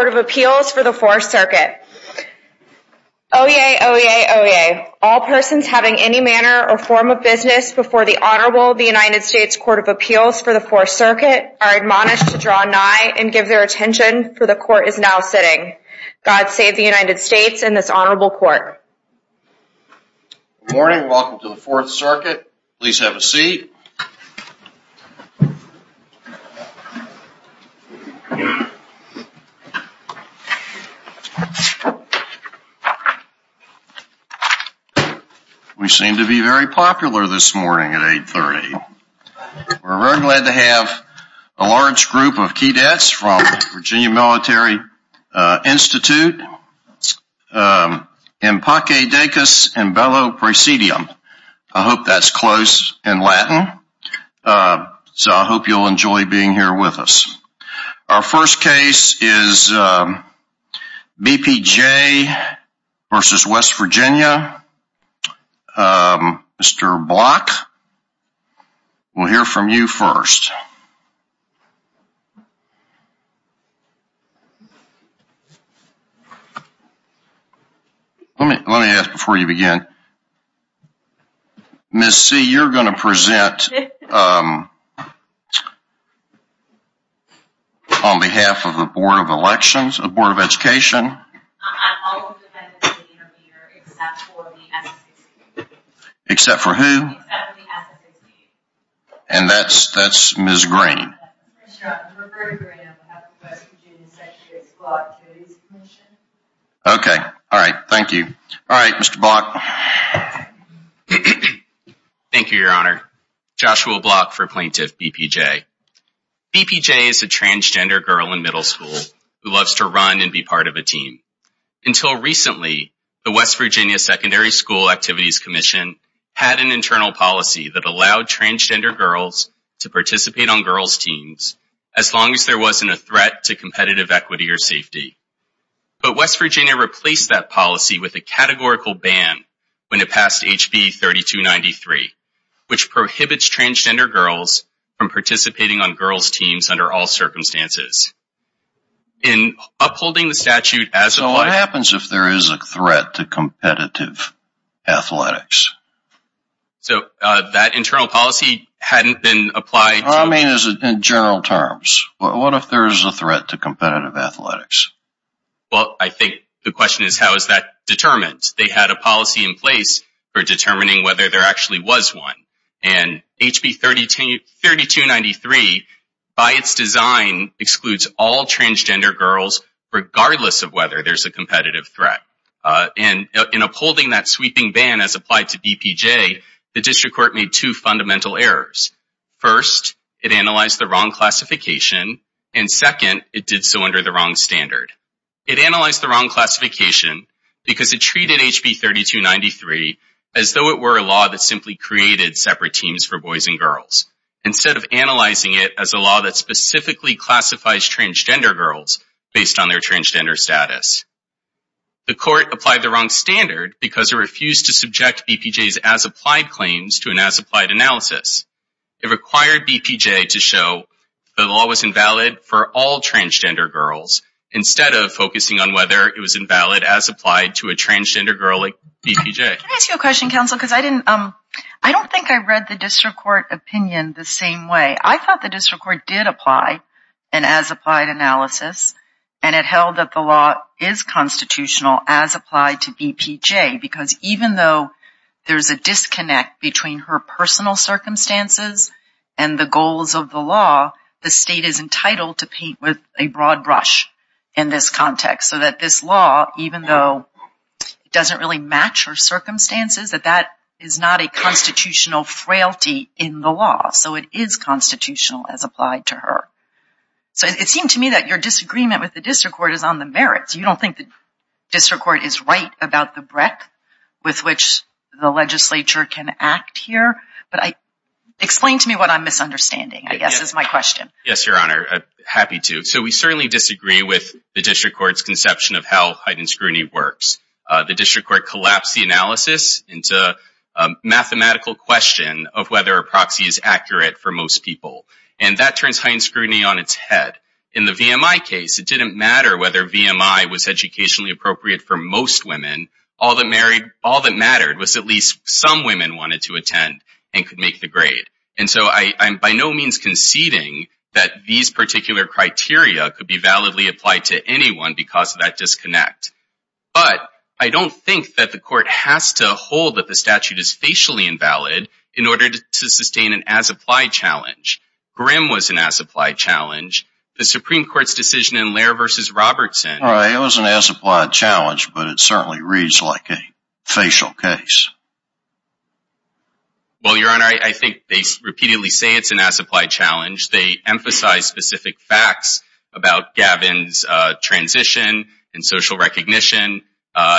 Court of Appeals for the Fourth Circuit. Oyez, oyez, oyez. All persons having any manner or form of business before the Honorable United States Court of Appeals for the Fourth Circuit are admonished to draw nigh and give their attention, for the Court is now sitting. God save the United States and this Honorable Court. Good morning and welcome to the Fourth Circuit. We seem to be very popular this morning at 8.30. We're very glad to have a large group of key debts from Virginia Military Institute. I hope that's close in Latin. So I hope you'll enjoy being here with us. Our first case is B.P.J. v. West Virginia. Mr. Block, we'll hear from you first. Let me ask before you begin. Ms. C., you're going to present on behalf of the Board of Elections, the Board of Education. Except for who? And that's Ms. Green. Okay. All right. Thank you. All right, Mr. Block. Thank you, Your Honor. Joshua Block for Plaintiff B.P.J. B.P.J. is a transgender girl in middle school who loves to run and be part of a team. Until recently, the West Virginia Secondary School Activities Commission had an internal policy that allowed transgender girls to participate on girls' teams as long as there wasn't a threat to competitive equity or safety. But West Virginia replaced that policy with a categorical ban when it passed HB 3293, which prohibits transgender girls from participating on girls' teams under all circumstances. In upholding the statute as applied... So what happens if there is a threat to competitive athletics? So that internal policy hadn't been applied... I mean, in general terms. What if there is a threat to competitive athletics? Well, I think the question is, how is that determined? They had a policy in place for determining whether there actually was one. And HB 3293, by its design, excludes all transgender girls regardless of whether there's a competitive threat. And in upholding that sweeping ban as applied to B.P.J., the district court made two fundamental errors. First, it analyzed the wrong classification. And second, it did so under the wrong standard. It analyzed the wrong classification because it treated HB 3293 as though it were a law that simply created separate teams for boys and girls, instead of analyzing it as a law that specifically classifies transgender girls based on their transgender status. The court applied the wrong standard because it refused to subject B.P.J.'s as-applied claims to an as-applied analysis. It required B.P.J. to show the law was invalid for all transgender girls instead of focusing on whether it was invalid as applied to a transgender girl like B.P.J. Can I ask you a question, counsel? Because I didn't, I don't think I read the district court opinion the same way. I thought the district court did apply an as-applied analysis and it held that the law is constitutional as applied to B.P.J. because even though there's a disconnect between her personal circumstances and the goals of the law, the state is entitled to paint with a broad brush in this context so that this law, even though it doesn't really match her circumstances, that that is not a constitutional frailty in the law. So it is constitutional as applied to her. So it seemed to me that your disagreement with the district court is on the merits. You don't think the district court is right about the breadth with which the legislature can act here? But explain to me what I'm misunderstanding, I guess, is my question. Yes, your honor. Happy to. So we certainly disagree with the district court's conception of how heightened scrutiny works. The district court collapsed the analysis into a mathematical question of whether a proxy is accurate for most people. And that turns heightened scrutiny on its head. In the VMI case, it didn't matter whether VMI was educationally appropriate for most women. All that mattered was at least some women wanted to attend and could make the grade. And so I'm by no means conceding that these particular criteria could be validly applied to anyone because of that disconnect. But I don't think that the court has to hold that the statute is facially invalid in order to sustain an as-applied challenge. Grimm was an as-applied challenge. The Supreme Court's decision in Lehrer v. Robertson. It was an as-applied challenge, but it certainly reads like a facial case. Well, your honor, I think they repeatedly say it's an as-applied challenge. They emphasize specific facts about Gavin's transition and social recognition.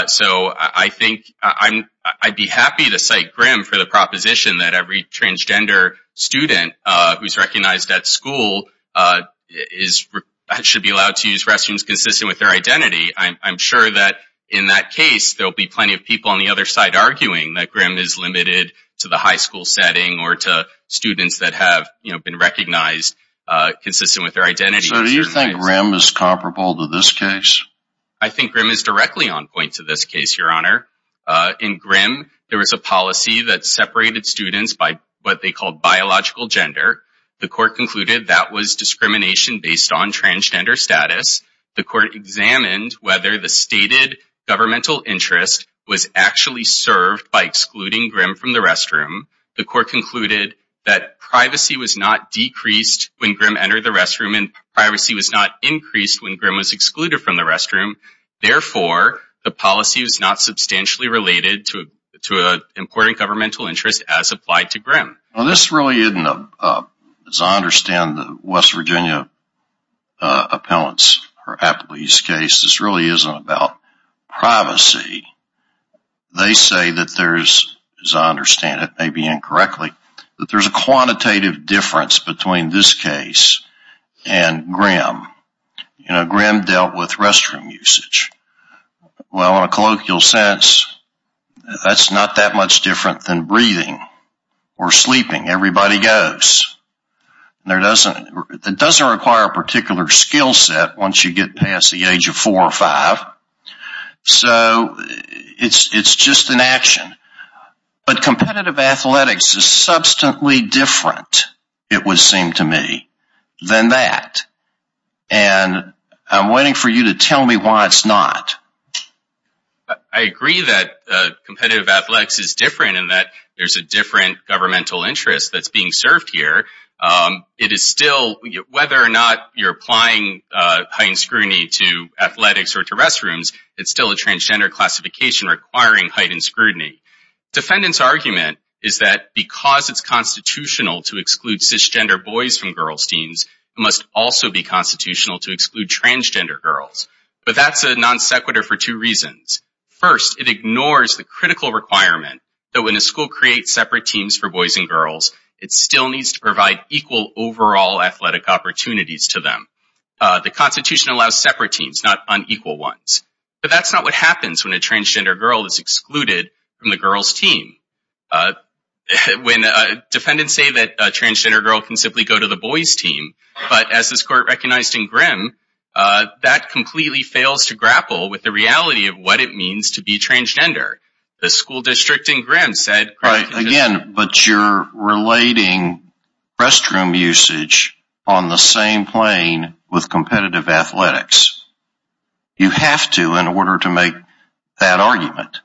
So I think I'd be happy to cite Grimm for the proposition that every transgender student who's recognized at school should be allowed to use restrooms consistent with their identity. I'm sure that in that case, there'll be plenty of people on the other side arguing that Grimm is limited to the high school setting or to students that have been recognized consistent with their identity. So do you think Grimm is comparable to this case? I think Grimm is directly on point to this case, your honor. In Grimm, there was a policy that separated students by what they called biological gender. The court concluded that was discrimination based on transgender status. The court examined whether the stated governmental interest was actually served by excluding Grimm from the restroom. The court concluded that privacy was not decreased when Grimm entered the restroom and privacy was not increased when Grimm was excluded from the restroom. Therefore, the policy was not substantially related to an important governmental interest as applied to Grimm. Well, this really isn't, as I understand, the West Virginia appellate's case. This really isn't about privacy. They say that there's, as I understand it, maybe incorrectly, that there's a quantitative difference between this case and Grimm. You know, Grimm dealt with restroom usage. Well, in a colloquial sense, that's not that much different than breathing or sleeping. Everybody goes. It doesn't require a particular skill set once you get past the age of four or five. So, it's just an action. But competitive athletics is substantially different, it would seem to me, than that. And I'm waiting for you to tell me why it's not. I agree that competitive athletics is different in that there's a different governmental interest that's being served here. It is still, whether or not you're applying heightened scrutiny to athletics or to restrooms, it's still a transgender classification requiring heightened scrutiny. Defendants' argument is that because it's constitutional to exclude cisgender boys from girls' teams, it must also be constitutional to exclude transgender girls. But that's a non sequitur for two reasons. First, it ignores the critical requirement that when a school creates separate teams for boys and girls, it still needs to provide equal overall athletic opportunities to them. The Constitution allows separate teams, not unequal ones. But that's not what happens when a transgender girl is excluded from the girls' team. When defendants say that a transgender girl can simply go to the boys' team, but as this Court recognized in Grimm, that completely fails to grapple with the reality of what it means to be transgender. The school district in Grimm said... Right. Again, but you're relating restroom usage on the same plane with competitive athletics. You have to in order to make that argument.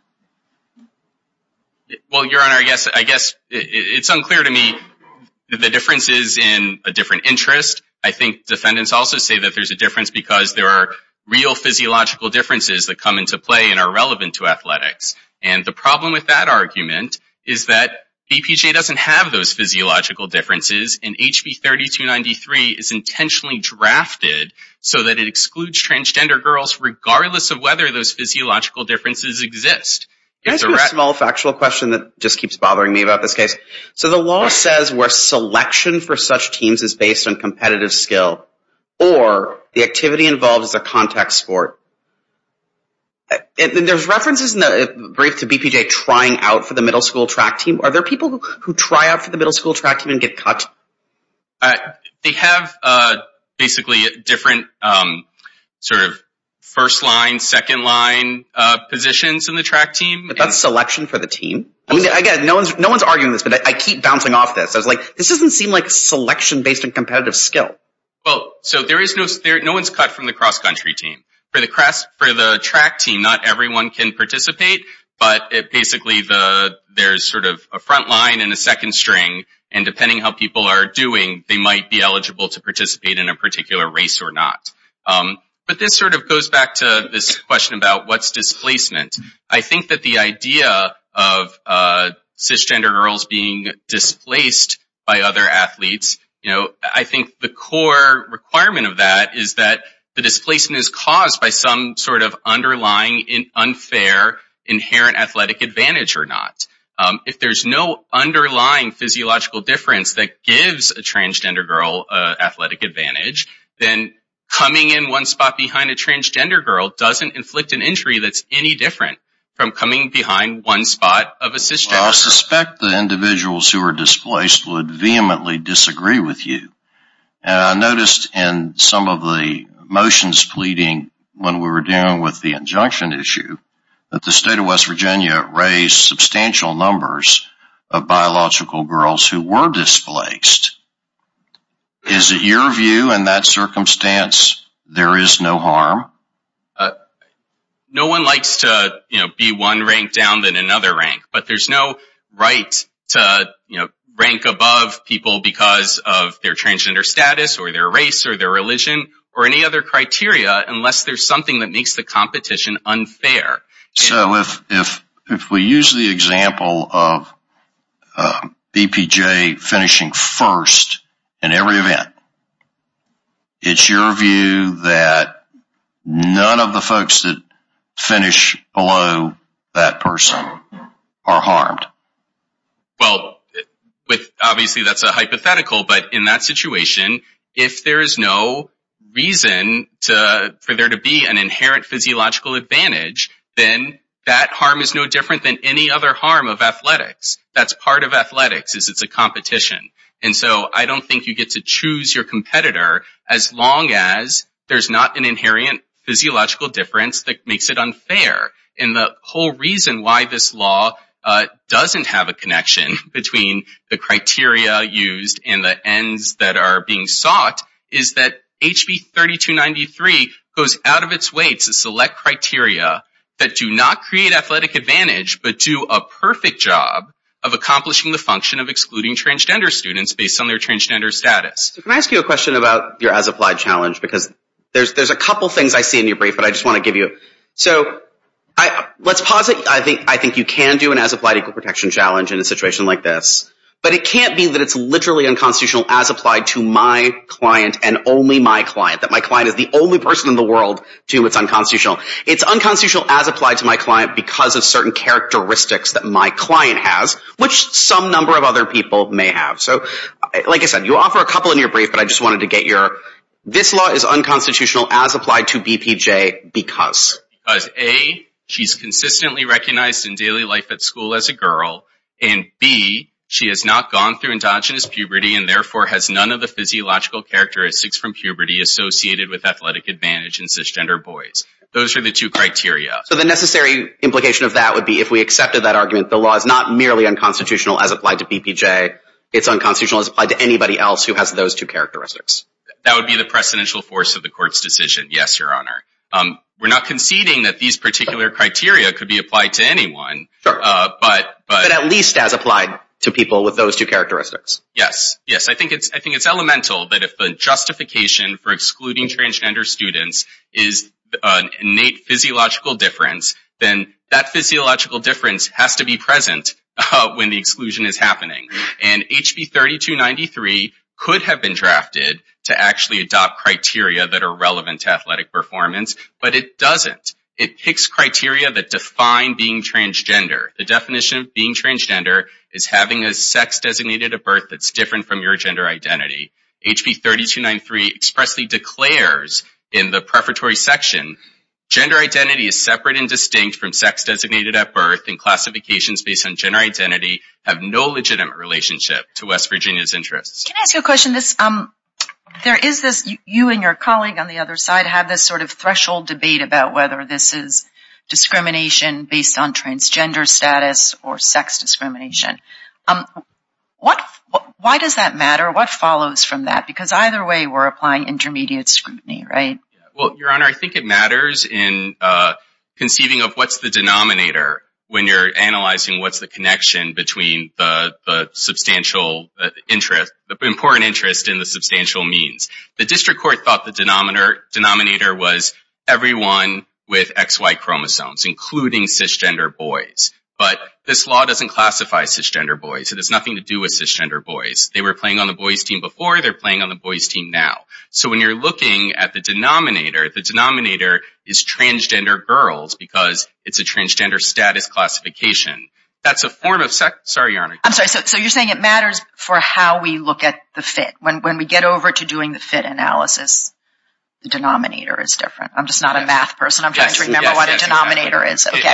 Well, Your Honor, I guess it's unclear to me that the difference is in a different interest. I think defendants also say that there's a difference because there are real physiological differences that come into play and are relevant to athletics. And the problem with that argument is that BPJ doesn't have those physiological differences and HB 3293 is intentionally drafted so that it excludes transgender girls regardless of whether those physiological differences exist. Can I ask you a small factual question that just keeps bothering me about this case? So the law says where selection for such teams is based on competitive skill or the activity involved is a contact sport. There's references in the brief to BPJ trying out for the middle school track team. Are there people who try out for the middle school track team and get cut? They have basically different sort of first line, second line positions in the track team. But that's selection for the team. I mean, again, no one's arguing this, but I keep bouncing off this. I was like, this doesn't seem like a selection based on competitive skill. Well, so there is no... No one's cut from the cross country team. For the track team, not everyone can participate, but basically there's sort of a front line and a second string and depending how people are doing, they might be eligible to participate in a particular race or not. But this sort of goes back to this question about what's displacement. I think that the idea of cisgender girls being displaced by other athletes, I think the core requirement of that is that the displacement is caused by some sort of underlying unfair inherent athletic advantage or not. If there's no underlying physiological difference that gives a transgender girl athletic advantage, then coming in one spot behind a transgender girl doesn't inflict an injury that's any different from coming behind one spot of a cisgender. I suspect the individuals who are displaced would vehemently disagree with you. I noticed in some of the motions pleading when we were dealing with the injunction issue that the state of West Virginia raised substantial numbers of biological girls who were displaced. Is it your view in that circumstance there is no harm? No one likes to be one rank down than another rank, but there's no right to rank above people because of their transgender status or their race or their religion or any other criteria unless there's something that makes the competition unfair. So if we use the example of BPJ finishing first in every event, it's your view that none of the folks that finish below that person are harmed? Well, obviously that's a hypothetical, but in that situation, if there is no reason for there to be an inherent physiological advantage, then that harm is no different than any other harm of athletics. That's part of athletics is it's a competition. And so I don't think you get to choose your competitor as long as there's not an inherent physiological difference that makes it unfair. And the whole reason why this law doesn't have a connection between the criteria used and the ends that are being sought is that HB 3293 goes out of its way to select criteria that do not create athletic advantage, but do a perfect job of accomplishing the function of excluding transgender students based on their transgender status. Can I ask you a question about your as-applied challenge? Because there's a couple things I see in your brief, but I just want to give you... So let's pause it. I think you can do an as-applied equal protection challenge in a situation like this, but it can't be that it's literally unconstitutional as applied to my client and only my client. That my client is the only person in the world to whom it's unconstitutional. It's unconstitutional as applied to my client because of certain characteristics that my client has, which some number of other people may have. So like I said, you offer a couple in your brief, but I just wanted to get your... This law is unconstitutional as applied to BPJ because... Because A, she's consistently recognized in daily life at school as a girl, and B, she has not gone through endogenous puberty and therefore has none of the physiological characteristics from puberty associated with athletic advantage in cisgender boys. Those are the two criteria. So the necessary implication of that would be if we accepted that argument, the law is not merely unconstitutional as applied to BPJ. It's unconstitutional as applied to anybody else who has those two characteristics. That would be the precedential force of the court's decision. Yes, Your Honor. We're not conceding that these particular criteria could be applied to anyone, but... At least as applied to people with those two characteristics. Yes, yes. I think it's elemental that if the justification for excluding transgender students is an innate physiological difference, then that physiological difference has to be present when the exclusion is happening. And HB 3293 could have been drafted to actually adopt criteria that are relevant to athletic performance, but it doesn't. It picks criteria that define being transgender. The definition of being transgender is having a sex designated at birth that's different from your gender identity. HB 3293 expressly declares in the prefatory section, gender identity is separate and distinct from sex designated at birth and classifications based on gender identity have no legitimate relationship to West Virginia's interests. Can I ask you a question? There is this, you and your colleague on the other side have this sort of threshold debate about whether this is discrimination based on transgender status or sex discrimination. Why does that matter? What follows from that? Because either way, we're applying intermediate scrutiny, right? Well, Your Honor, I think it matters in conceiving of what's the denominator when you're analyzing what's the connection between the substantial interest, the important interest in the substantial means. The district court thought the denominator was everyone with XY chromosomes, including cisgender boys. But this law doesn't classify cisgender boys. It has nothing to do with cisgender boys. They were playing on the boys team before. They're playing on the boys team now. So when you're looking at the denominator, the denominator is transgender girls because it's a transgender status classification. That's a form of sex. Sorry, Your Honor. I'm sorry. So you're saying it matters for how we look at the fit. When we get over to doing the fit analysis, the denominator is different. I'm just not a math person. I'm trying to remember what a denominator is. Absolutely.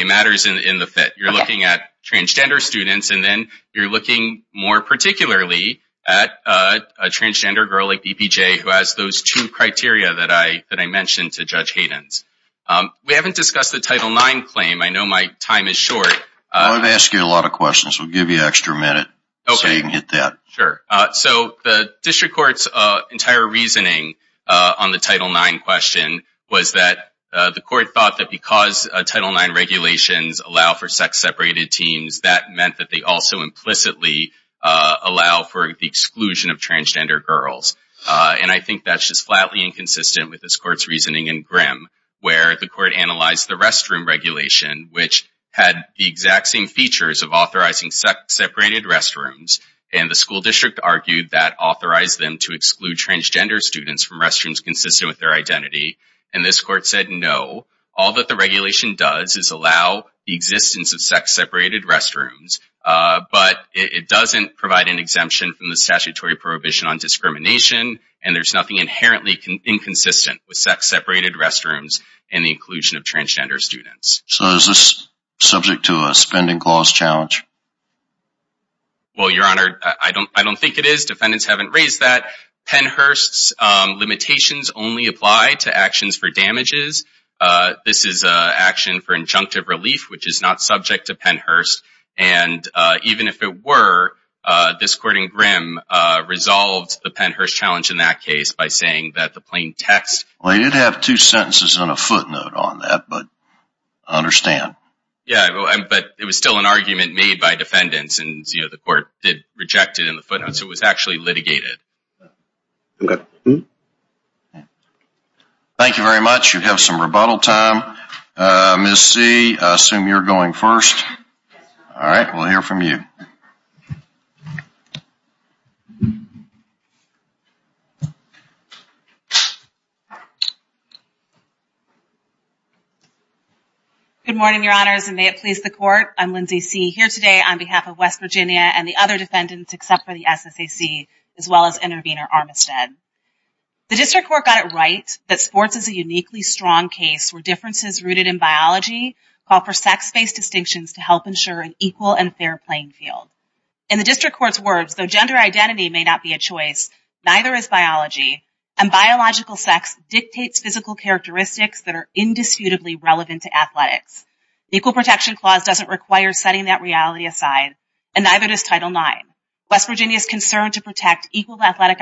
It matters in the fit. You're looking at transgender students and then you're looking more particularly at a transgender girl like BPJ who has those two criteria that I mentioned to Judge Hayden. We haven't discussed the Title IX claim. I know my time is short. I'm going to ask you a lot of questions. We'll give you an extra minute so you can get that. So the district court's entire reasoning on the Title IX question was that the court thought that because Title IX regulations allow for sex-separated teams, that meant that they also implicitly allow for the exclusion of transgender girls. I think that's just flatly inconsistent with this court's reasoning in Grimm, where the court analyzed the restroom regulation, which had the exact same features of authorizing sex-separated restrooms and the school district argued that authorized them to exclude transgender students from restrooms consistent with their identity. And this court said, no, all that the regulation does is allow the existence of sex-separated restrooms, but it doesn't provide an exemption from the statutory prohibition on discrimination and there's nothing inherently inconsistent with sex-separated restrooms and the inclusion of transgender students. So is this subject to a spending clause challenge? Well, Your Honor, I don't think it is. Defendants haven't raised that. Pennhurst's limitations only apply to actions for damages. This is an action for injunctive relief, which is not subject to Pennhurst. And even if it were, this court in Grimm resolved the Pennhurst challenge in that case by saying that the plain text... Well, you did have two sentences and a footnote on that, but I understand. Yeah, but it was still an argument made by defendants and, you know, the court did reject it in the footnote. So it was actually litigated. Thank you very much. You have some rebuttal time. Ms. C, I assume you're going first. All right, we'll hear from you. Good morning, Your Honors, and may it please the court. I'm Lindsay C, here today on behalf of West Virginia and the other defendants, except for the SSAC, as well as Intervenor Armistead. The district court got it right that sports is a uniquely strong case where differences rooted in biology call for sex-based distinctions to help ensure an equal and fair playing field. In the district court's words, though gender identity may not be a choice, neither is biology, and biological sex dictates physical characteristics that are indisputably relevant to athletics. The Equal Protection Clause doesn't require setting that reality aside, and neither does Title IX. West Virginia's concern to protect equal athletic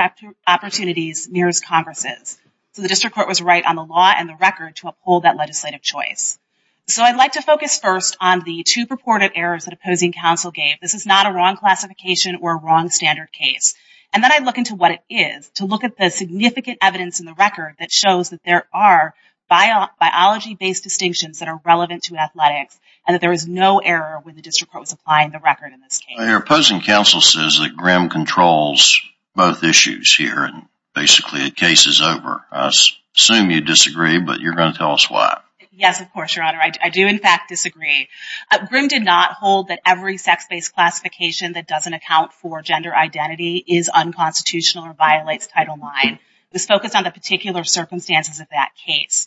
opportunities mirrors Congress's. So the district court was right on the law and the record to uphold that legislative choice. So I'd like to focus first on the two purported errors that opposing counsel gave. This is not a wrong classification or a wrong standard case. And then I look into what it is, to look at the significant evidence in the record that shows that there are biology-based distinctions that are relevant to athletics, and that there is no error when the district court was applying the record in this case. Your opposing counsel says that Grimm controls both issues here, and basically the case is over. I assume you disagree, but you're going to tell us why. Yes, of course, Your Honor. I do, in fact, disagree. Grimm did not hold that every sex-based classification that doesn't account for gender identity is unconstitutional or violates Title IX. It was focused on the particular circumstances of that case.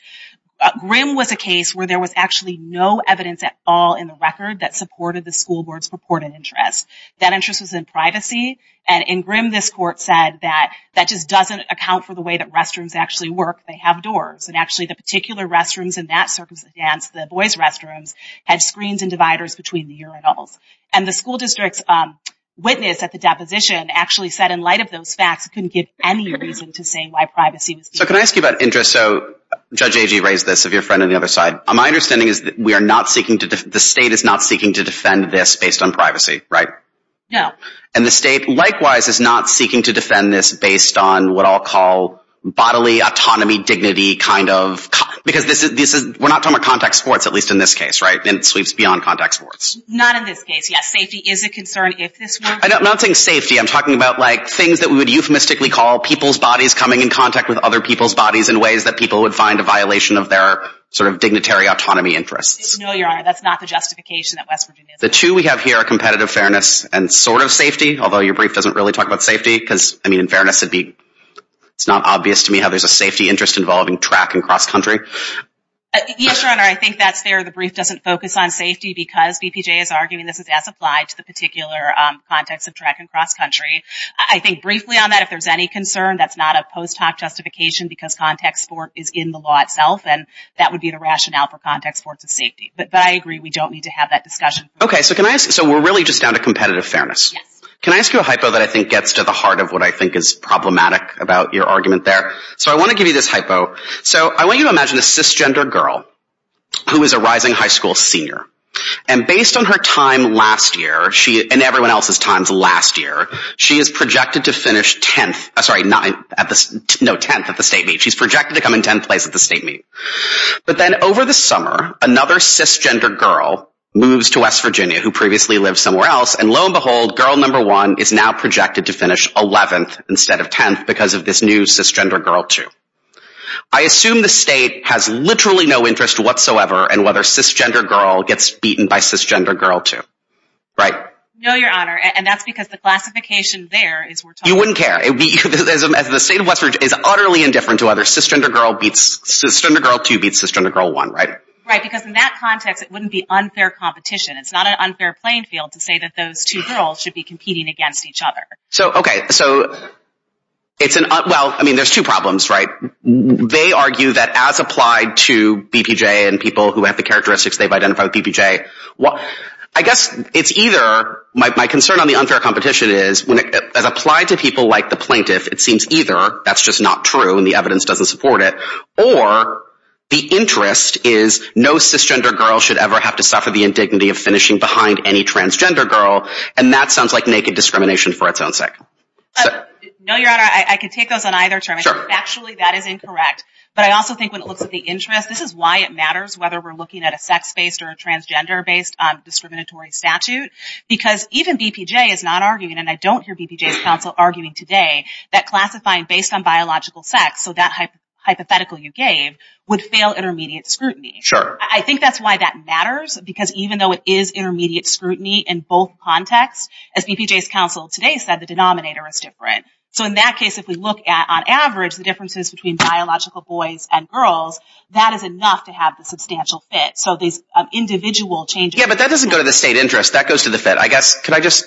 Grimm was a case where there was actually no evidence at all in the record that supported the school board's purported interest. That interest was in privacy. And in Grimm, this court said that that just doesn't account for the way that restrooms actually work. They have doors. And actually, the particular restrooms in that circumstance, the boys' restrooms, had screens and dividers between the urinals. And the school district's witness at the deposition actually said, in light of those facts, it couldn't give any reason to say why privacy was needed. So can I ask you about interest? So Judge Agee raised this, of your friend on the other side. My understanding is that the state is not seeking to defend this based on privacy, right? No. And the state, likewise, is not seeking to defend this based on what I'll call bodily autonomy, dignity kind of—because we're not talking about contact sports, at least in this case, right? And it sweeps beyond contact sports. Not in this case, yes. Safety is a concern if this works. I'm not saying safety. I'm talking about things that we would euphemistically call people's bodies coming in contact with other people's bodies in ways that people would find a violation of their sort of dignitary autonomy interests. No, Your Honor. That's not the justification that West Virginia is— The two we have here are competitive fairness and sort of safety, although your brief doesn't really talk about safety. Because, I mean, in fairness, it's not obvious to me how there's a safety interest involving track and cross-country. Yes, Your Honor. I think that's fair. The brief doesn't focus on safety because BPJ is arguing this is as applied to the particular context of track and cross-country. I think briefly on that, if there's any concern, that's not a post hoc justification because contact sport is in the law itself, and that would be the rationale for contact sports as safety. But I agree. We don't need to have that discussion. Okay. So can I ask—so we're really just down to competitive fairness. Yes. Can I ask you a hypo that I think gets to the heart of what I think is problematic about your argument there? So I want to give you this hypo. So I want you to imagine a cisgender girl who is a rising high school senior. And based on her time last year, and everyone else's times last year, she is projected to finish 10th—sorry, 9th—no, 10th at the state meet. She's projected to come in 10th place at the state meet. But then over the summer, another cisgender girl moves to West Virginia, who previously lived somewhere else. And lo and behold, girl number one is now projected to finish 11th instead of 10th because of this new cisgender girl, too. I assume the state has literally no interest whatsoever in whether cisgender girl gets beaten by cisgender girl two. Right? No, your honor. And that's because the classification there is— You wouldn't care. As the state of West Virginia is utterly indifferent to whether cisgender girl two beats cisgender girl one, right? Right. Because in that context, it wouldn't be unfair competition. It's not an unfair playing field to say that those two girls should be competing against each other. So, okay. So it's an—well, I mean, there's two problems, right? They argue that as applied to BPJ and people who have the characteristics they've identified with BPJ, well, I guess it's either—my concern on the unfair competition is, as applied to people like the plaintiff, it seems either that's just not true and the evidence doesn't support it, or the interest is no cisgender girl should ever have to suffer the indignity of finishing behind any transgender girl. And that sounds like naked discrimination for its own sake. No, your honor. I can take those on either term. Sure. Actually, that is incorrect. But I also think when it looks at the interest, this is why it matters whether we're looking at a sex-based or a transgender-based discriminatory statute. Because even BPJ is not arguing, and I don't hear BPJ's counsel arguing today, that classifying based on biological sex, so that hypothetical you gave, would fail intermediate scrutiny. Sure. I think that's why that matters, because even though it is intermediate scrutiny in both contexts, as BPJ's counsel today said, the denominator is different. So in that case, if we look at, on average, the differences between biological boys and girls, that is enough to have the substantial fit. So these individual changes... Yeah, but that doesn't go to the state interest. That goes to the fit. I guess, could I just...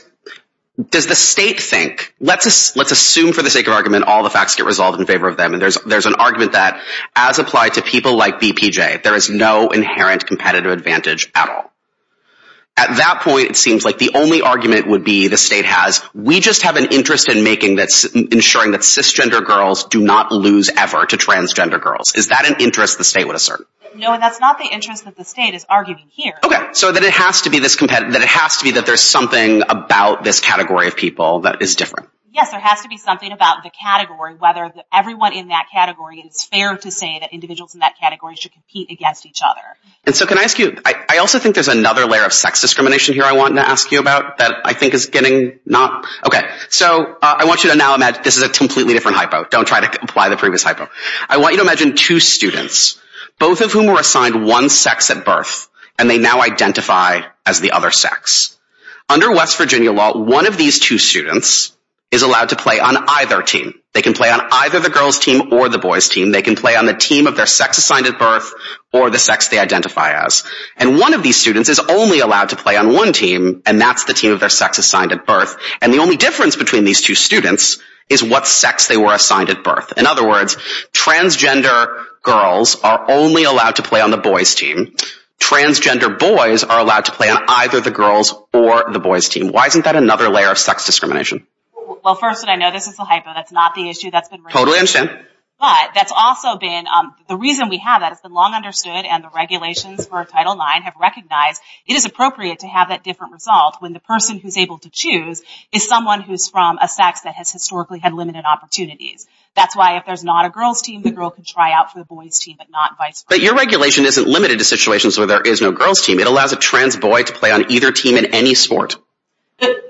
Does the state think, let's assume for the sake of argument, all the facts get resolved in favor of them, and there's an argument that, as applied to people like BPJ, there is no inherent competitive advantage at all. At that point, it seems like the only argument would be the state has, we just have an interest ensuring that cisgender girls do not lose ever to transgender girls. Is that an interest the state would assert? No, and that's not the interest that the state is arguing here. Okay. So that it has to be this competitive, that it has to be that there's something about this category of people that is different. Yes, there has to be something about the category, whether everyone in that category, it is fair to say that individuals in that category should compete against each other. And so can I ask you, I also think there's another layer of sex discrimination here I want to ask you about that I think is getting not... So I want you to now imagine this is a completely different hypo. Don't try to apply the previous hypo. I want you to imagine two students, both of whom were assigned one sex at birth, and they now identify as the other sex. Under West Virginia law, one of these two students is allowed to play on either team. They can play on either the girl's team or the boy's team. They can play on the team of their sex assigned at birth or the sex they identify as. And one of these students is only allowed to play on one team, and that's the team of their sex assigned at birth. And the only difference between these two students is what sex they were assigned at In other words, transgender girls are only allowed to play on the boy's team. Transgender boys are allowed to play on either the girl's or the boy's team. Why isn't that another layer of sex discrimination? Well, first, I know this is a hypo. That's not the issue that's been raised. Totally understand. But that's also been the reason we have that. It's been long understood and the regulations for Title IX have recognized it is appropriate to have that different result when the person who's able to choose is someone who's from a sex that has historically had limited opportunities. That's why if there's not a girl's team, the girl can try out for the boy's team, but not vice versa. But your regulation isn't limited to situations where there is no girl's team. It allows a trans boy to play on either team in any sport.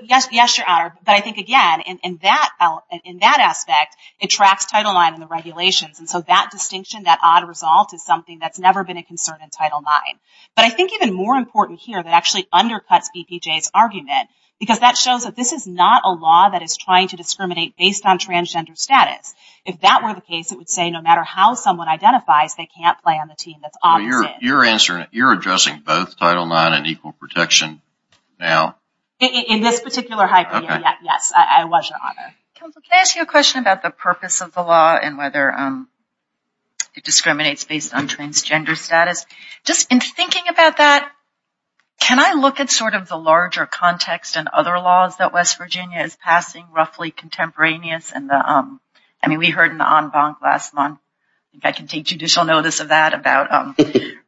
Yes, your honor. But I think, again, in that aspect, it tracks Title IX in the regulations. And so that distinction, that odd result, is something that's never been a concern in Title IX. But I think even more important here that actually undercuts BPJ's argument, because that shows that this is not a law that is trying to discriminate based on transgender status. If that were the case, it would say no matter how someone identifies, they can't play on the team that's opposite. Your answer, you're addressing both Title IX and equal protection now? In this particular hypo, yes. I was, your honor. Counselor, can I ask you a question about the purpose of the law and whether it discriminates based on transgender status? Just in thinking about that, can I look at sort of the larger context and other laws that West Virginia is passing, roughly contemporaneous? I mean, we heard in the en banc last month, I can take judicial notice of that, about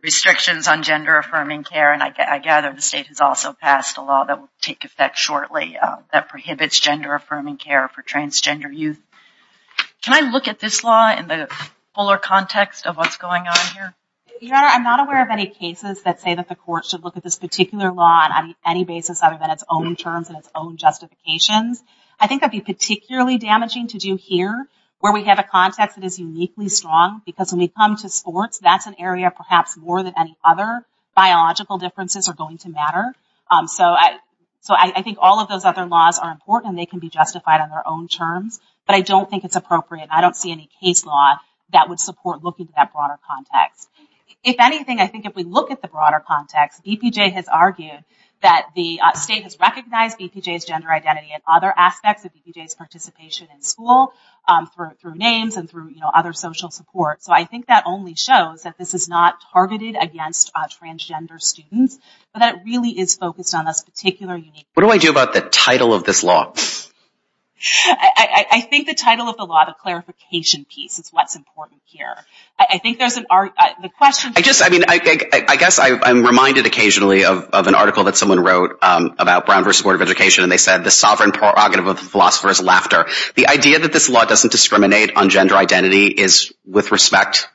restrictions on gender-affirming care. And I gather the state has also passed a law that will take effect shortly that prohibits gender-affirming care for transgender youth. Can I look at this law in the fuller context of what's going on here? Your honor, I'm not aware of any cases that say that the court should look at this particular law on any basis other than its own terms and its own justifications. I think that would be particularly damaging to do here, where we have a context that is uniquely strong. Because when we come to sports, that's an area perhaps more than any other biological differences are going to matter. So I think all of those other laws are important and they can be justified on their own terms. But I don't think it's appropriate. I don't see any case law that would support looking at that broader context. If anything, I think if we look at the broader context, BPJ has argued that the state has recognized BPJ's gender identity and other aspects of BPJ's participation in school through names and through other social support. So I think that only shows that this is not targeted against transgender students, but that it really is focused on this particular unique— What do I do about the title of this law? I think the title of the law, the clarification piece, is what's important here. I think there's an— I guess I'm reminded occasionally of an article that someone wrote about Brown v. Board of Education, and they said, The sovereign prerogative of the philosopher is laughter. The idea that this law doesn't discriminate on gender identity is, with respect,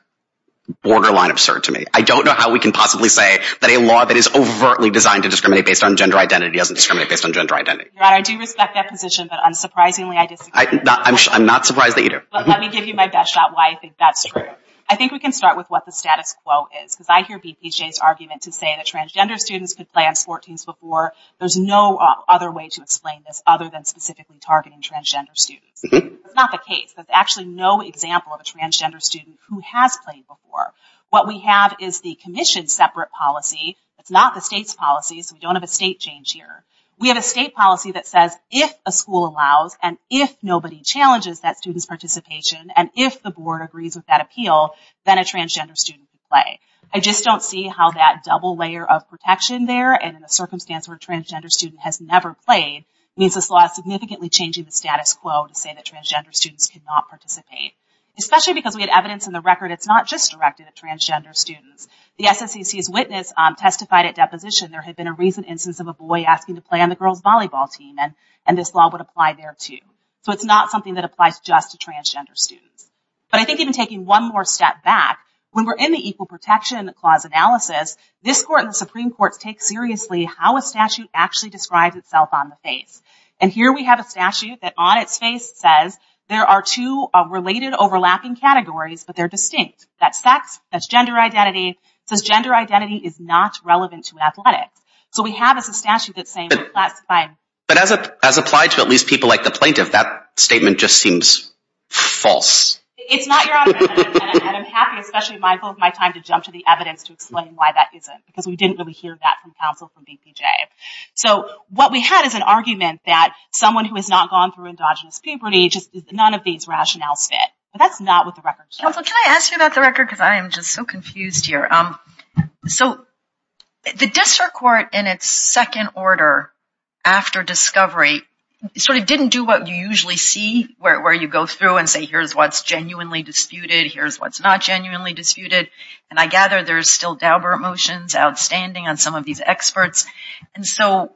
borderline absurd to me. I don't know how we can possibly say that a law that is overtly designed to discriminate based on gender identity doesn't discriminate based on gender identity. Ron, I do respect that position, but unsurprisingly, I disagree. I'm not surprised that you do. Let me give you my best shot why I think that's true. I think we can start with what the status quo is, because I hear BPJ's argument to say that transgender students could play on sport teams before. There's no other way to explain this other than specifically targeting transgender students. That's not the case. There's actually no example of a transgender student who has played before. What we have is the commission's separate policy. It's not the state's policy, so we don't have a state change here. We have a state policy that says if a school allows and if nobody challenges that student's participation, and if the board agrees with that appeal, then a transgender student can play. I just don't see how that double layer of protection there, and in a circumstance where a transgender student has never played, means this law is significantly changing the status quo to say that transgender students cannot participate, especially because we had evidence in the record it's not just directed at transgender students. The SSEC's witness testified at deposition there had been a recent instance of a boy asking to play on the girls' volleyball team, and this law would apply there, too. So it's not something that applies just to transgender students. But I think even taking one more step back, when we're in the Equal Protection Clause analysis, this court and the Supreme Court take seriously how a statute actually describes itself on the face. And here we have a statute that on its face says there are two related overlapping categories, but they're distinct. That's sex. That's gender identity. It says gender identity is not relevant to athletics. So we have a statute that's saying we're classifying. But as applied to at least people like the plaintiff, that statement just seems false. It's not your argument, and I'm happy, especially mindful of my time, to jump to the evidence to explain why that isn't, because we didn't really hear that from counsel from DPJ. So what we had is an argument that someone who has not gone through endogenous puberty, just none of these rationales fit. But that's not what the record says. Can I ask you about the record? Because I am just so confused here. So the district court in its second order after discovery sort of didn't do what you usually see where you go through and say, here's what's genuinely disputed. Here's what's not genuinely disputed. And I gather there's still Daubert motions outstanding on some of these experts. And so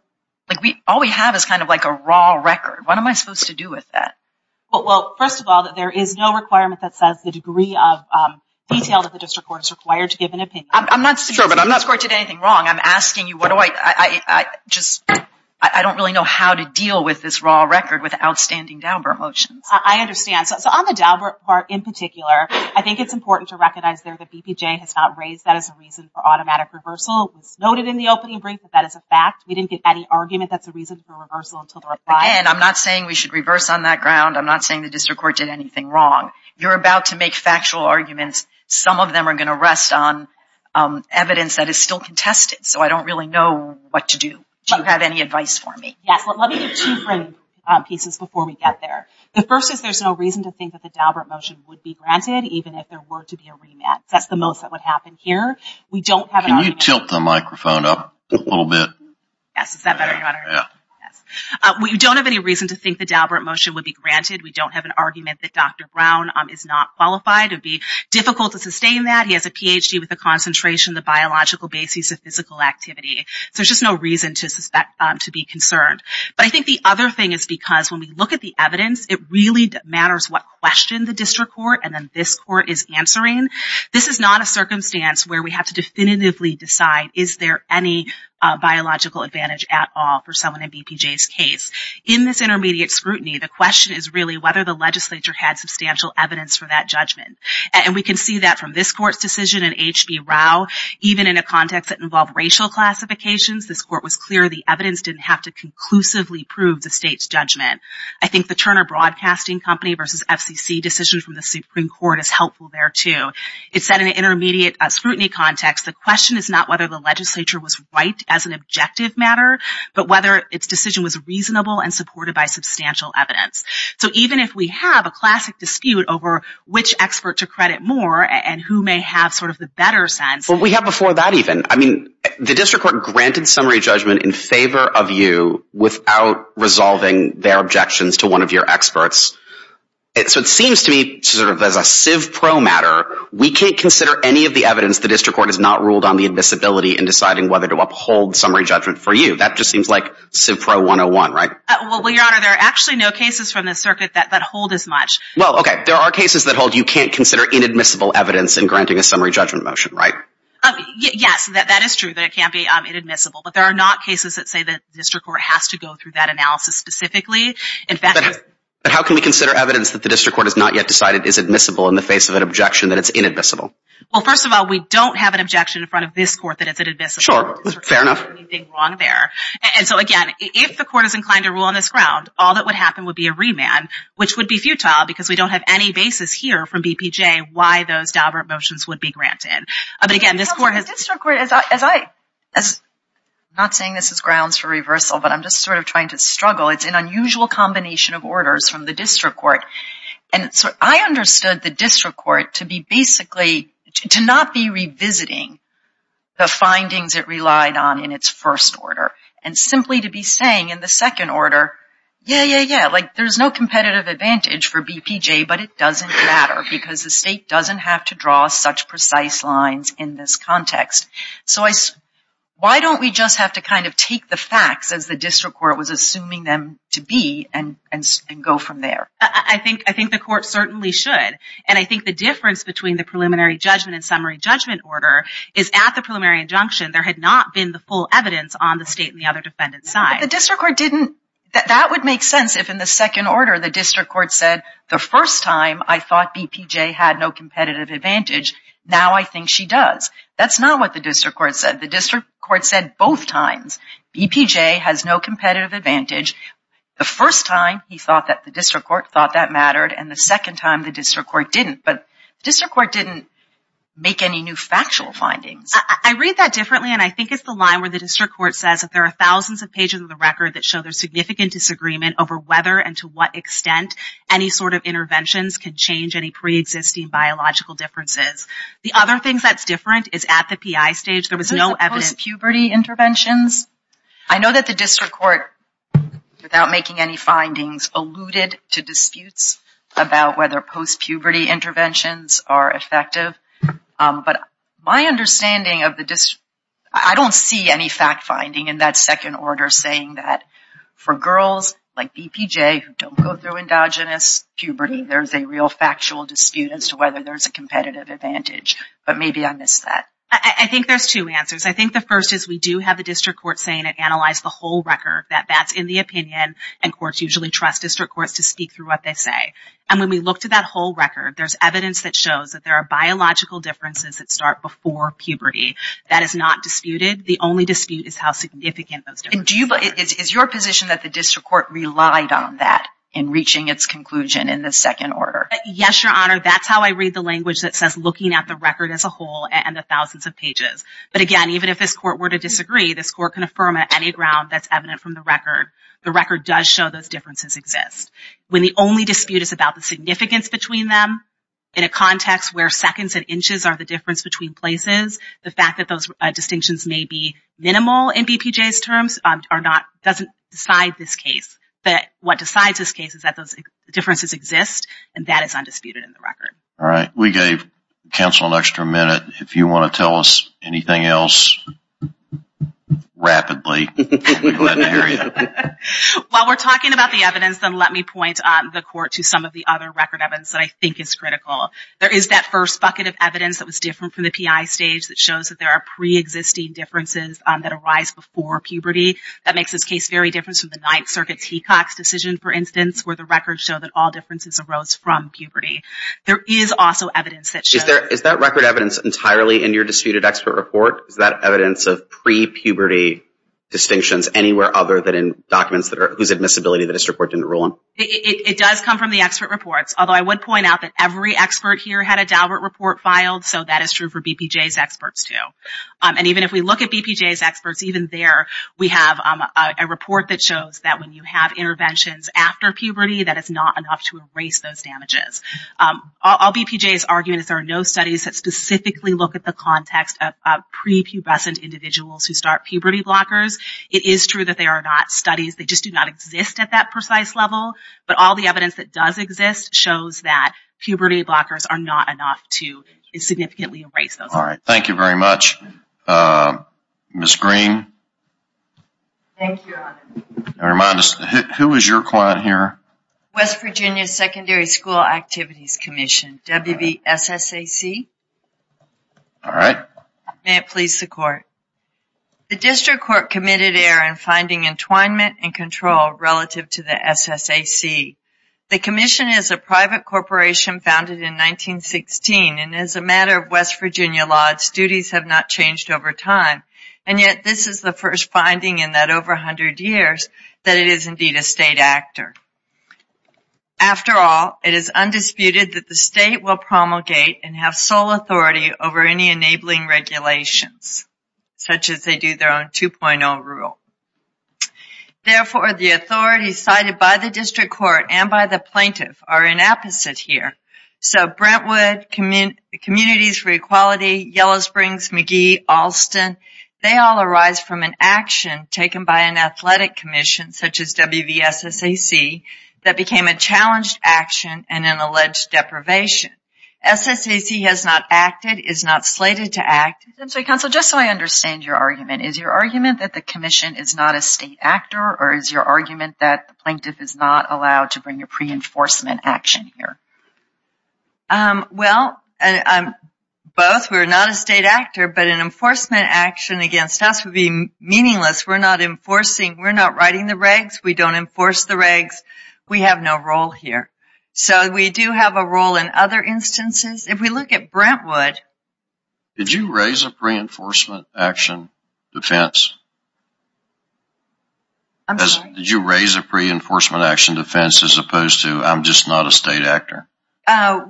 all we have is kind of like a raw record. What am I supposed to do with that? Well, first of all, there is no requirement that says the degree of detail that the district court is required to give an opinion. I'm not saying the district court did anything wrong. I'm asking you, what do I, I just, I don't really know how to deal with this raw record with outstanding Daubert motions. I understand. So on the Daubert part in particular, I think it's important to recognize there that DPJ has not raised that as a reason for automatic reversal. It was noted in the opening brief that that is a fact. We didn't get any argument that's a reason for reversal until the reply. Again, I'm not saying we should reverse on that ground. I'm not saying the district court did anything wrong. You're about to make factual arguments. Some of them are going to rest on evidence that is still contested. So I don't really know what to do. Do you have any advice for me? Yes. Let me get two frame pieces before we get there. The first is there's no reason to think that the Daubert motion would be granted, even if there were to be a remit. That's the most that would happen here. We don't have an argument. Can you tilt the microphone up a little bit? Yes. Is that better? We don't have any reason to think the Daubert motion would be granted. We don't have an argument that Dr. Brown is not qualified. It would be difficult to sustain that. He has a PhD with a concentration in the biological basis of physical activity. So there's just no reason to be concerned. But I think the other thing is because when we look at the evidence, it really matters what question the district court and then this court is answering. This is not a circumstance where we have to definitively decide, is there any biological advantage at all for someone in BPJ's case? In this intermediate scrutiny, the question is really whether the legislature had substantial evidence for that judgment. And we can see that from this court's decision in HB Rao, even in a context that involved racial classifications, this court was clear the evidence didn't have to conclusively prove the state's judgment. I think the Turner Broadcasting Company versus FCC decision from the Supreme Court is helpful there too. It said in an intermediate scrutiny context, the question is not whether the legislature was right as an objective matter, but whether its decision was reasonable and supported by substantial evidence. So even if we have a classic dispute over which expert to credit more and who may have sort of the better sense. But we have before that even. I mean, the district court granted summary judgment in favor of you without resolving their objections to one of your experts. So it seems to me sort of as a civ pro matter, we can't consider any of the evidence the district court has not ruled on the admissibility in deciding whether to uphold summary judgment for you. That just seems like civ pro 101, right? Well, Your Honor, there are actually no cases from the circuit that hold as much. Well, OK. There are cases that hold you can't consider inadmissible evidence in granting a summary judgment motion, right? Yes, that is true. That it can't be inadmissible. But there are not cases that say the district court has to go through that analysis specifically. In fact, how can we consider evidence that the district court has not yet decided is admissible in the face of an objection that it's inadmissible? Well, first of all, we don't have an objection in front of this court that it's inadmissible. Sure. Fair enough. Wrong there. And so again, if the court is inclined to rule on this ground, all that would happen would be a remand, which would be futile because we don't have any basis here from BPJ why those Daubert motions would be granted. But again, this court has... The district court, as I... I'm not saying this is grounds for reversal, but I'm just sort of trying to struggle. It's an unusual combination of orders from the district court. And so I understood the district court to be basically, to not be revisiting the findings it relied on in its first order. Simply to be saying in the second order, yeah, yeah, yeah. There's no competitive advantage for BPJ, but it doesn't matter because the state doesn't have to draw such precise lines in this context. So why don't we just have to kind of take the facts as the district court was assuming them to be and go from there? I think the court certainly should. And I think the difference between the preliminary judgment and summary judgment order is at the preliminary injunction, there had not been the full evidence on the state and the other defendant's side. The district court didn't... That would make sense if in the second order, the district court said, the first time I thought BPJ had no competitive advantage. Now I think she does. That's not what the district court said. The district court said both times BPJ has no competitive advantage. The first time he thought that the district court thought that mattered. And the second time the district court didn't. But the district court didn't make any new factual findings. I read that differently. And I think it's the line where the district court says that there are thousands of pages of the record that show there's significant disagreement over whether and to what extent any sort of interventions can change any pre-existing biological differences. The other thing that's different is at the PI stage, there was no evidence... Post-puberty interventions. I know that the district court, without making any findings, alluded to disputes about whether post-puberty interventions are effective. But my understanding of the... I don't see any fact-finding in that second order saying that for girls like BPJ who don't go through endogenous puberty, there's a real factual dispute as to whether there's a competitive advantage. But maybe I missed that. I think there's two answers. I think the first is we do have the district court saying it analyzed the whole record that that's in the opinion. And courts usually trust district courts to speak through what they say. And when we look to that whole record, there's evidence that shows that there are biological differences that start before puberty. That is not disputed. The only dispute is how significant those differences are. And do you... Is your position that the district court relied on that in reaching its conclusion in the second order? Yes, Your Honor. That's how I read the language that says looking at the record as a whole and the thousands of pages. But again, even if this court were to disagree, this court can affirm on any ground that's evident from the record. The record does show those differences exist. When the only dispute is about the significance between them in a context where seconds and inches are the difference between places, the fact that those distinctions may be minimal in BPJ's terms doesn't decide this case. But what decides this case is that those differences exist and that is undisputed in the record. All right. We gave counsel an extra minute. If you want to tell us anything else rapidly. While we're talking about the evidence, then let me point the court to some of the other record evidence that I think is critical. There is that first bucket of evidence that was different from the PI stage that shows that there are pre-existing differences that arise before puberty. That makes this case very different from the Ninth Circuit's Hecox decision, for instance, where the records show that all differences arose from puberty. There is also evidence that shows... Is that record evidence entirely in your disputed expert report? Is that evidence of pre-puberty distinctions anywhere other than in documents whose admissibility that this report didn't rule on? It does come from the expert reports. Although I would point out that every expert here had a Daubert report filed. So that is true for BPJ's experts too. And even if we look at BPJ's experts, even there we have a report that shows that when you have interventions after puberty that it's not enough to erase those damages. All BPJ's argument is there are no studies that specifically look at the context of pre-pubescent individuals who start puberty blockers. It is true that they are not studies. They just do not exist at that precise level. But all the evidence that does exist shows that puberty blockers are not enough to significantly erase those. All right. Thank you very much. Ms. Green. Thank you, Your Honor. Remind us, who is your client here? West Virginia Secondary School Activities Commission, WVSSAC. All right. May it please the Court. The District Court committed error in finding entwinement and control relative to the SSAC. The commission is a private corporation founded in 1916. And as a matter of West Virginia law, its duties have not changed over time. And yet this is the first finding in that over 100 years that it is indeed a state actor. After all, it is undisputed that the state will promulgate and have sole authority over any enabling regulations, such as they do their own 2.0 rule. Therefore, the authorities cited by the District Court and by the plaintiff are inapposite here. So Brentwood, Communities for Equality, Yellow Springs, McGee, Alston, they all arise from an action taken by an athletic commission, such as WVSSAC, that became a challenged action and an alleged deprivation. SSAC has not acted, is not slated to act. Assembly Counsel, just so I understand your argument, is your argument that the commission is not a state actor or is your argument that the plaintiff is not allowed to bring a pre-enforcement action here? Well, both. We're not a state actor, but an enforcement action against us would be meaningless. We're not enforcing. We're not writing the regs. We don't enforce the regs. We have no role here. So we do have a role in other instances. If we look at Brentwood. Did you raise a pre-enforcement action? Defense. Did you raise a pre-enforcement action defense as opposed to I'm just not a state actor?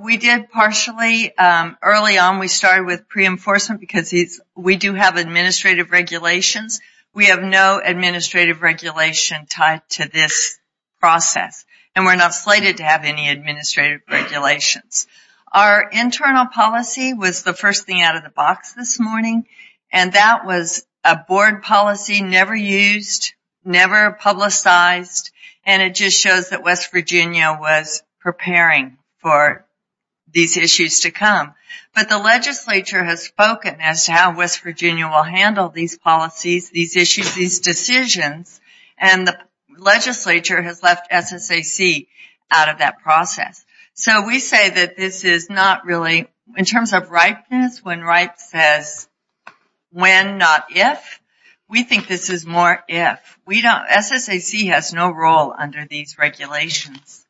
We did partially. Early on, we started with pre-enforcement because we do have administrative regulations. We have no administrative regulation tied to this process. And we're not slated to have any administrative regulations. Our internal policy was the first thing out of the box this morning. And that was a board policy never used, never publicized. And it just shows that West Virginia was preparing for these issues to come. But the legislature has spoken as to how West Virginia will handle these policies, these issues, these decisions. And the legislature has left SSAC out of that process. So we say that this is not really in terms of ripeness when right says when, not if. We think this is more if. We don't. SSAC has no role under these regulations.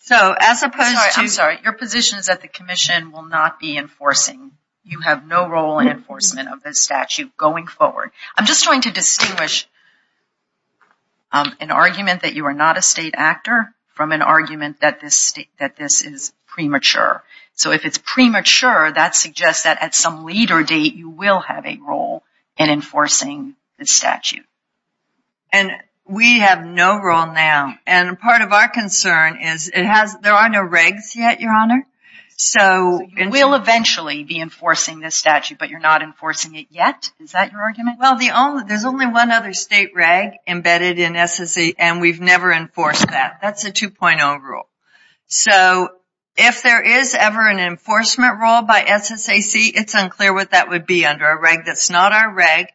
So as opposed to... I'm sorry. Your position is that the commission will not be enforcing. You have no role in enforcement of this statute going forward. I'm just trying to distinguish an argument that you are not a state actor from an argument that this is premature. So if it's premature, that suggests that at some later date, you will have a role in enforcing the statute. And we have no role now. And part of our concern is it has... There are no regs yet, Your Honor. So we'll eventually be enforcing this statute, but you're not enforcing it yet. Is that your argument? Well, there's only one other state reg embedded in SSAC and we've never enforced that. That's a 2.0 rule. So if there is ever an enforcement rule by SSAC, it's unclear what that would be under a reg. That's not our reg.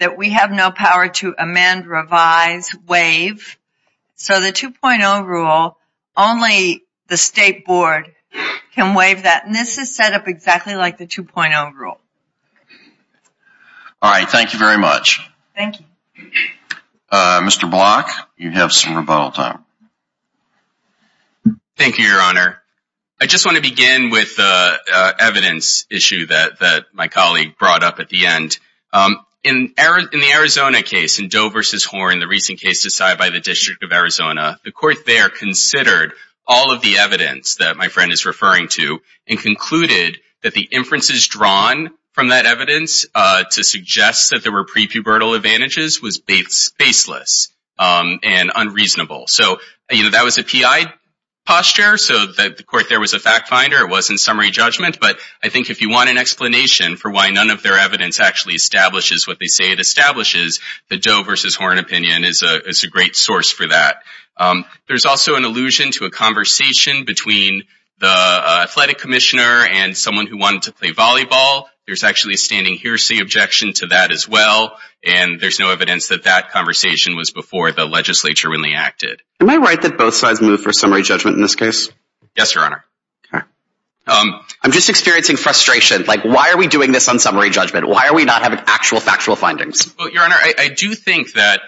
That we have no power to amend, revise, waive. So the 2.0 rule, only the state board can waive that. And this is set up exactly like the 2.0 rule. All right. Thank you very much. Thank you. Mr. Block, you have some rebuttal time. Thank you, Your Honor. I just want to begin with the evidence issue that my colleague brought up at the end. In the Arizona case, in Doe v. Horn, the recent case decided by the District of Arizona, the court there considered all of the evidence that my friend is referring to and concluded that the inferences drawn from that evidence to suggest that there were pre-pubertal advantages was baseless and unreasonable. So that was a PI posture. So the court there was a fact finder. It wasn't summary judgment. But I think if you want an explanation for why none of their evidence actually establishes what they say it establishes, the Doe v. Horn opinion is a great source for that. There's also an allusion to a conversation between the athletic commissioner and someone who wanted to play volleyball. There's actually a standing hearsay objection to that as well. And there's no evidence that that conversation was before the legislature really acted. Am I right that both sides moved for summary judgment in this case? Yes, Your Honor. I'm just experiencing frustration. Like, why are we doing this on summary judgment? Why are we not having actual factual findings? Well, Your Honor, I do think that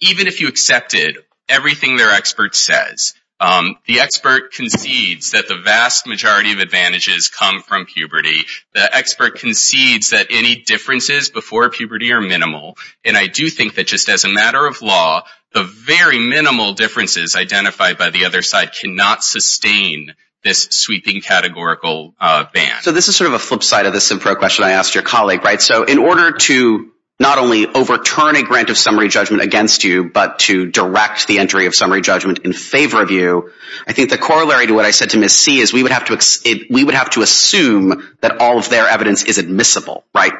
even if you accepted everything their expert says, the expert concedes that the vast majority of advantages come from puberty. The expert concedes that any differences before puberty are minimal. And I do think that just as a matter of law, the very minimal differences identified by the other side cannot sustain this sweeping categorical ban. So this is sort of a flip side of this question I asked your colleague, right? So in order to not only overturn a grant of summary judgment against you, but to direct the entry of summary judgment in favor of you, I think the corollary to what I said to Ms. C is we would have to assume that all of their evidence is admissible, right?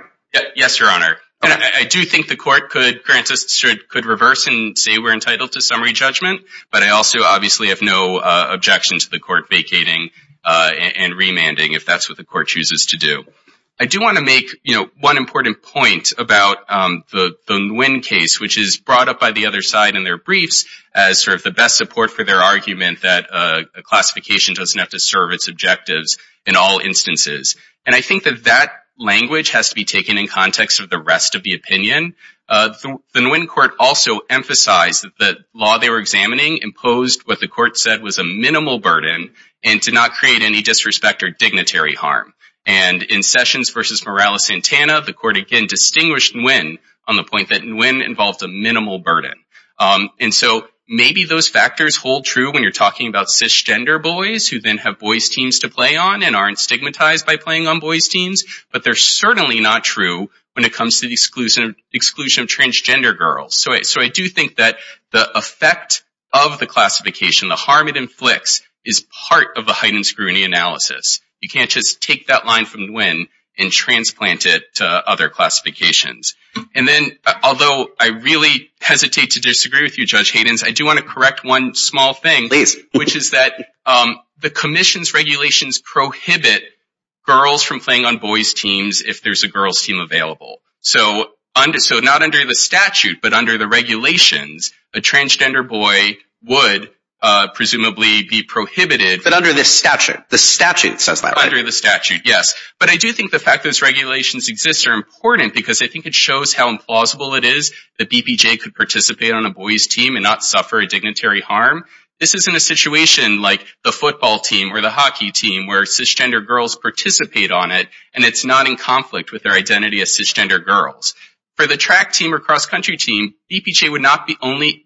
Yes, Your Honor. And I do think the court could reverse and say we're entitled to summary judgment, but I also obviously have no objection to the court vacating and remanding if that's what the court chooses to do. I do want to make one important point about the Nguyen case, which is brought up by the other side in their briefs as sort of the best support for their argument that a classification doesn't have to serve its objectives in all instances. And I think that that language has to be taken in context of the rest of the opinion. The Nguyen court also emphasized that the law they were examining imposed what the court said was a minimal burden and to not create any disrespect or dignitary harm. And in Sessions versus Morales-Santana, the court again distinguished Nguyen on the point that Nguyen involved a minimal burden. And so maybe those factors hold true when you're talking about cisgender boys who then have boys teams to play on and aren't stigmatized by playing on boys teams, but they're certainly not true when it comes to the exclusion of transgender girls. So I do think that the effect of the classification, the harm it inflicts, is part of a heightened scrutiny analysis. You can't just take that line from Nguyen and transplant it to other classifications. And then, although I really hesitate to disagree with you, Judge Haydens, I do want to correct one small thing, which is that the commission's regulations prohibit girls from playing on boys teams if there's a girls team available. So not under the statute, but under the regulations, a transgender boy would presumably be prohibited. But under the statute. The statute says that, right? Under the statute, yes. But I do think the fact those regulations exist are important because I think it shows how implausible it is that BPJ could participate on a boys team and not suffer a dignitary harm. This isn't a situation like the football team or the hockey team where cisgender girls participate on it and it's not in conflict with their identity as cisgender girls. For the track team or cross-country team, BPJ would not be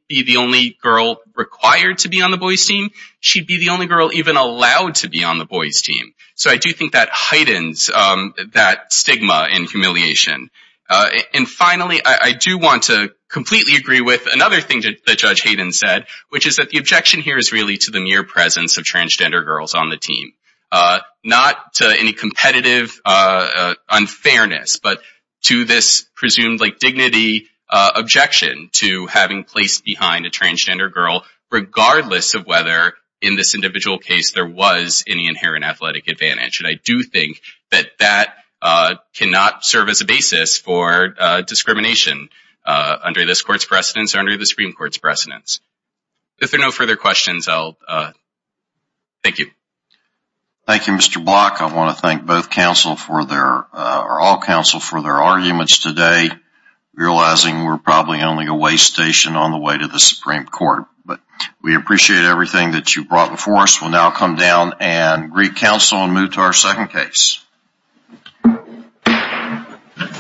the only girl required to be on the boys team. She'd be the only girl even allowed to be on the boys team. So I do think that heightens that stigma and humiliation. And finally, I do want to completely agree with another thing that Judge Hayden said, which is that the objection here is really to the mere presence of transgender girls on the team. Not to any competitive unfairness, but to this presumed dignity objection to having placed behind a transgender girl regardless of whether in this individual case there was any inherent athletic advantage. And I do think that that cannot serve as a basis for discrimination under this court's precedence or under the Supreme Court's precedence. If there are no further questions, I'll... Thank you. Thank you, Mr. Block. I want to thank both counsel for their... or all counsel for their arguments today, realizing we're probably only a way station on the way to the Supreme Court. But we appreciate everything that you brought before us. We'll now come down and greet counsel and move to our second case.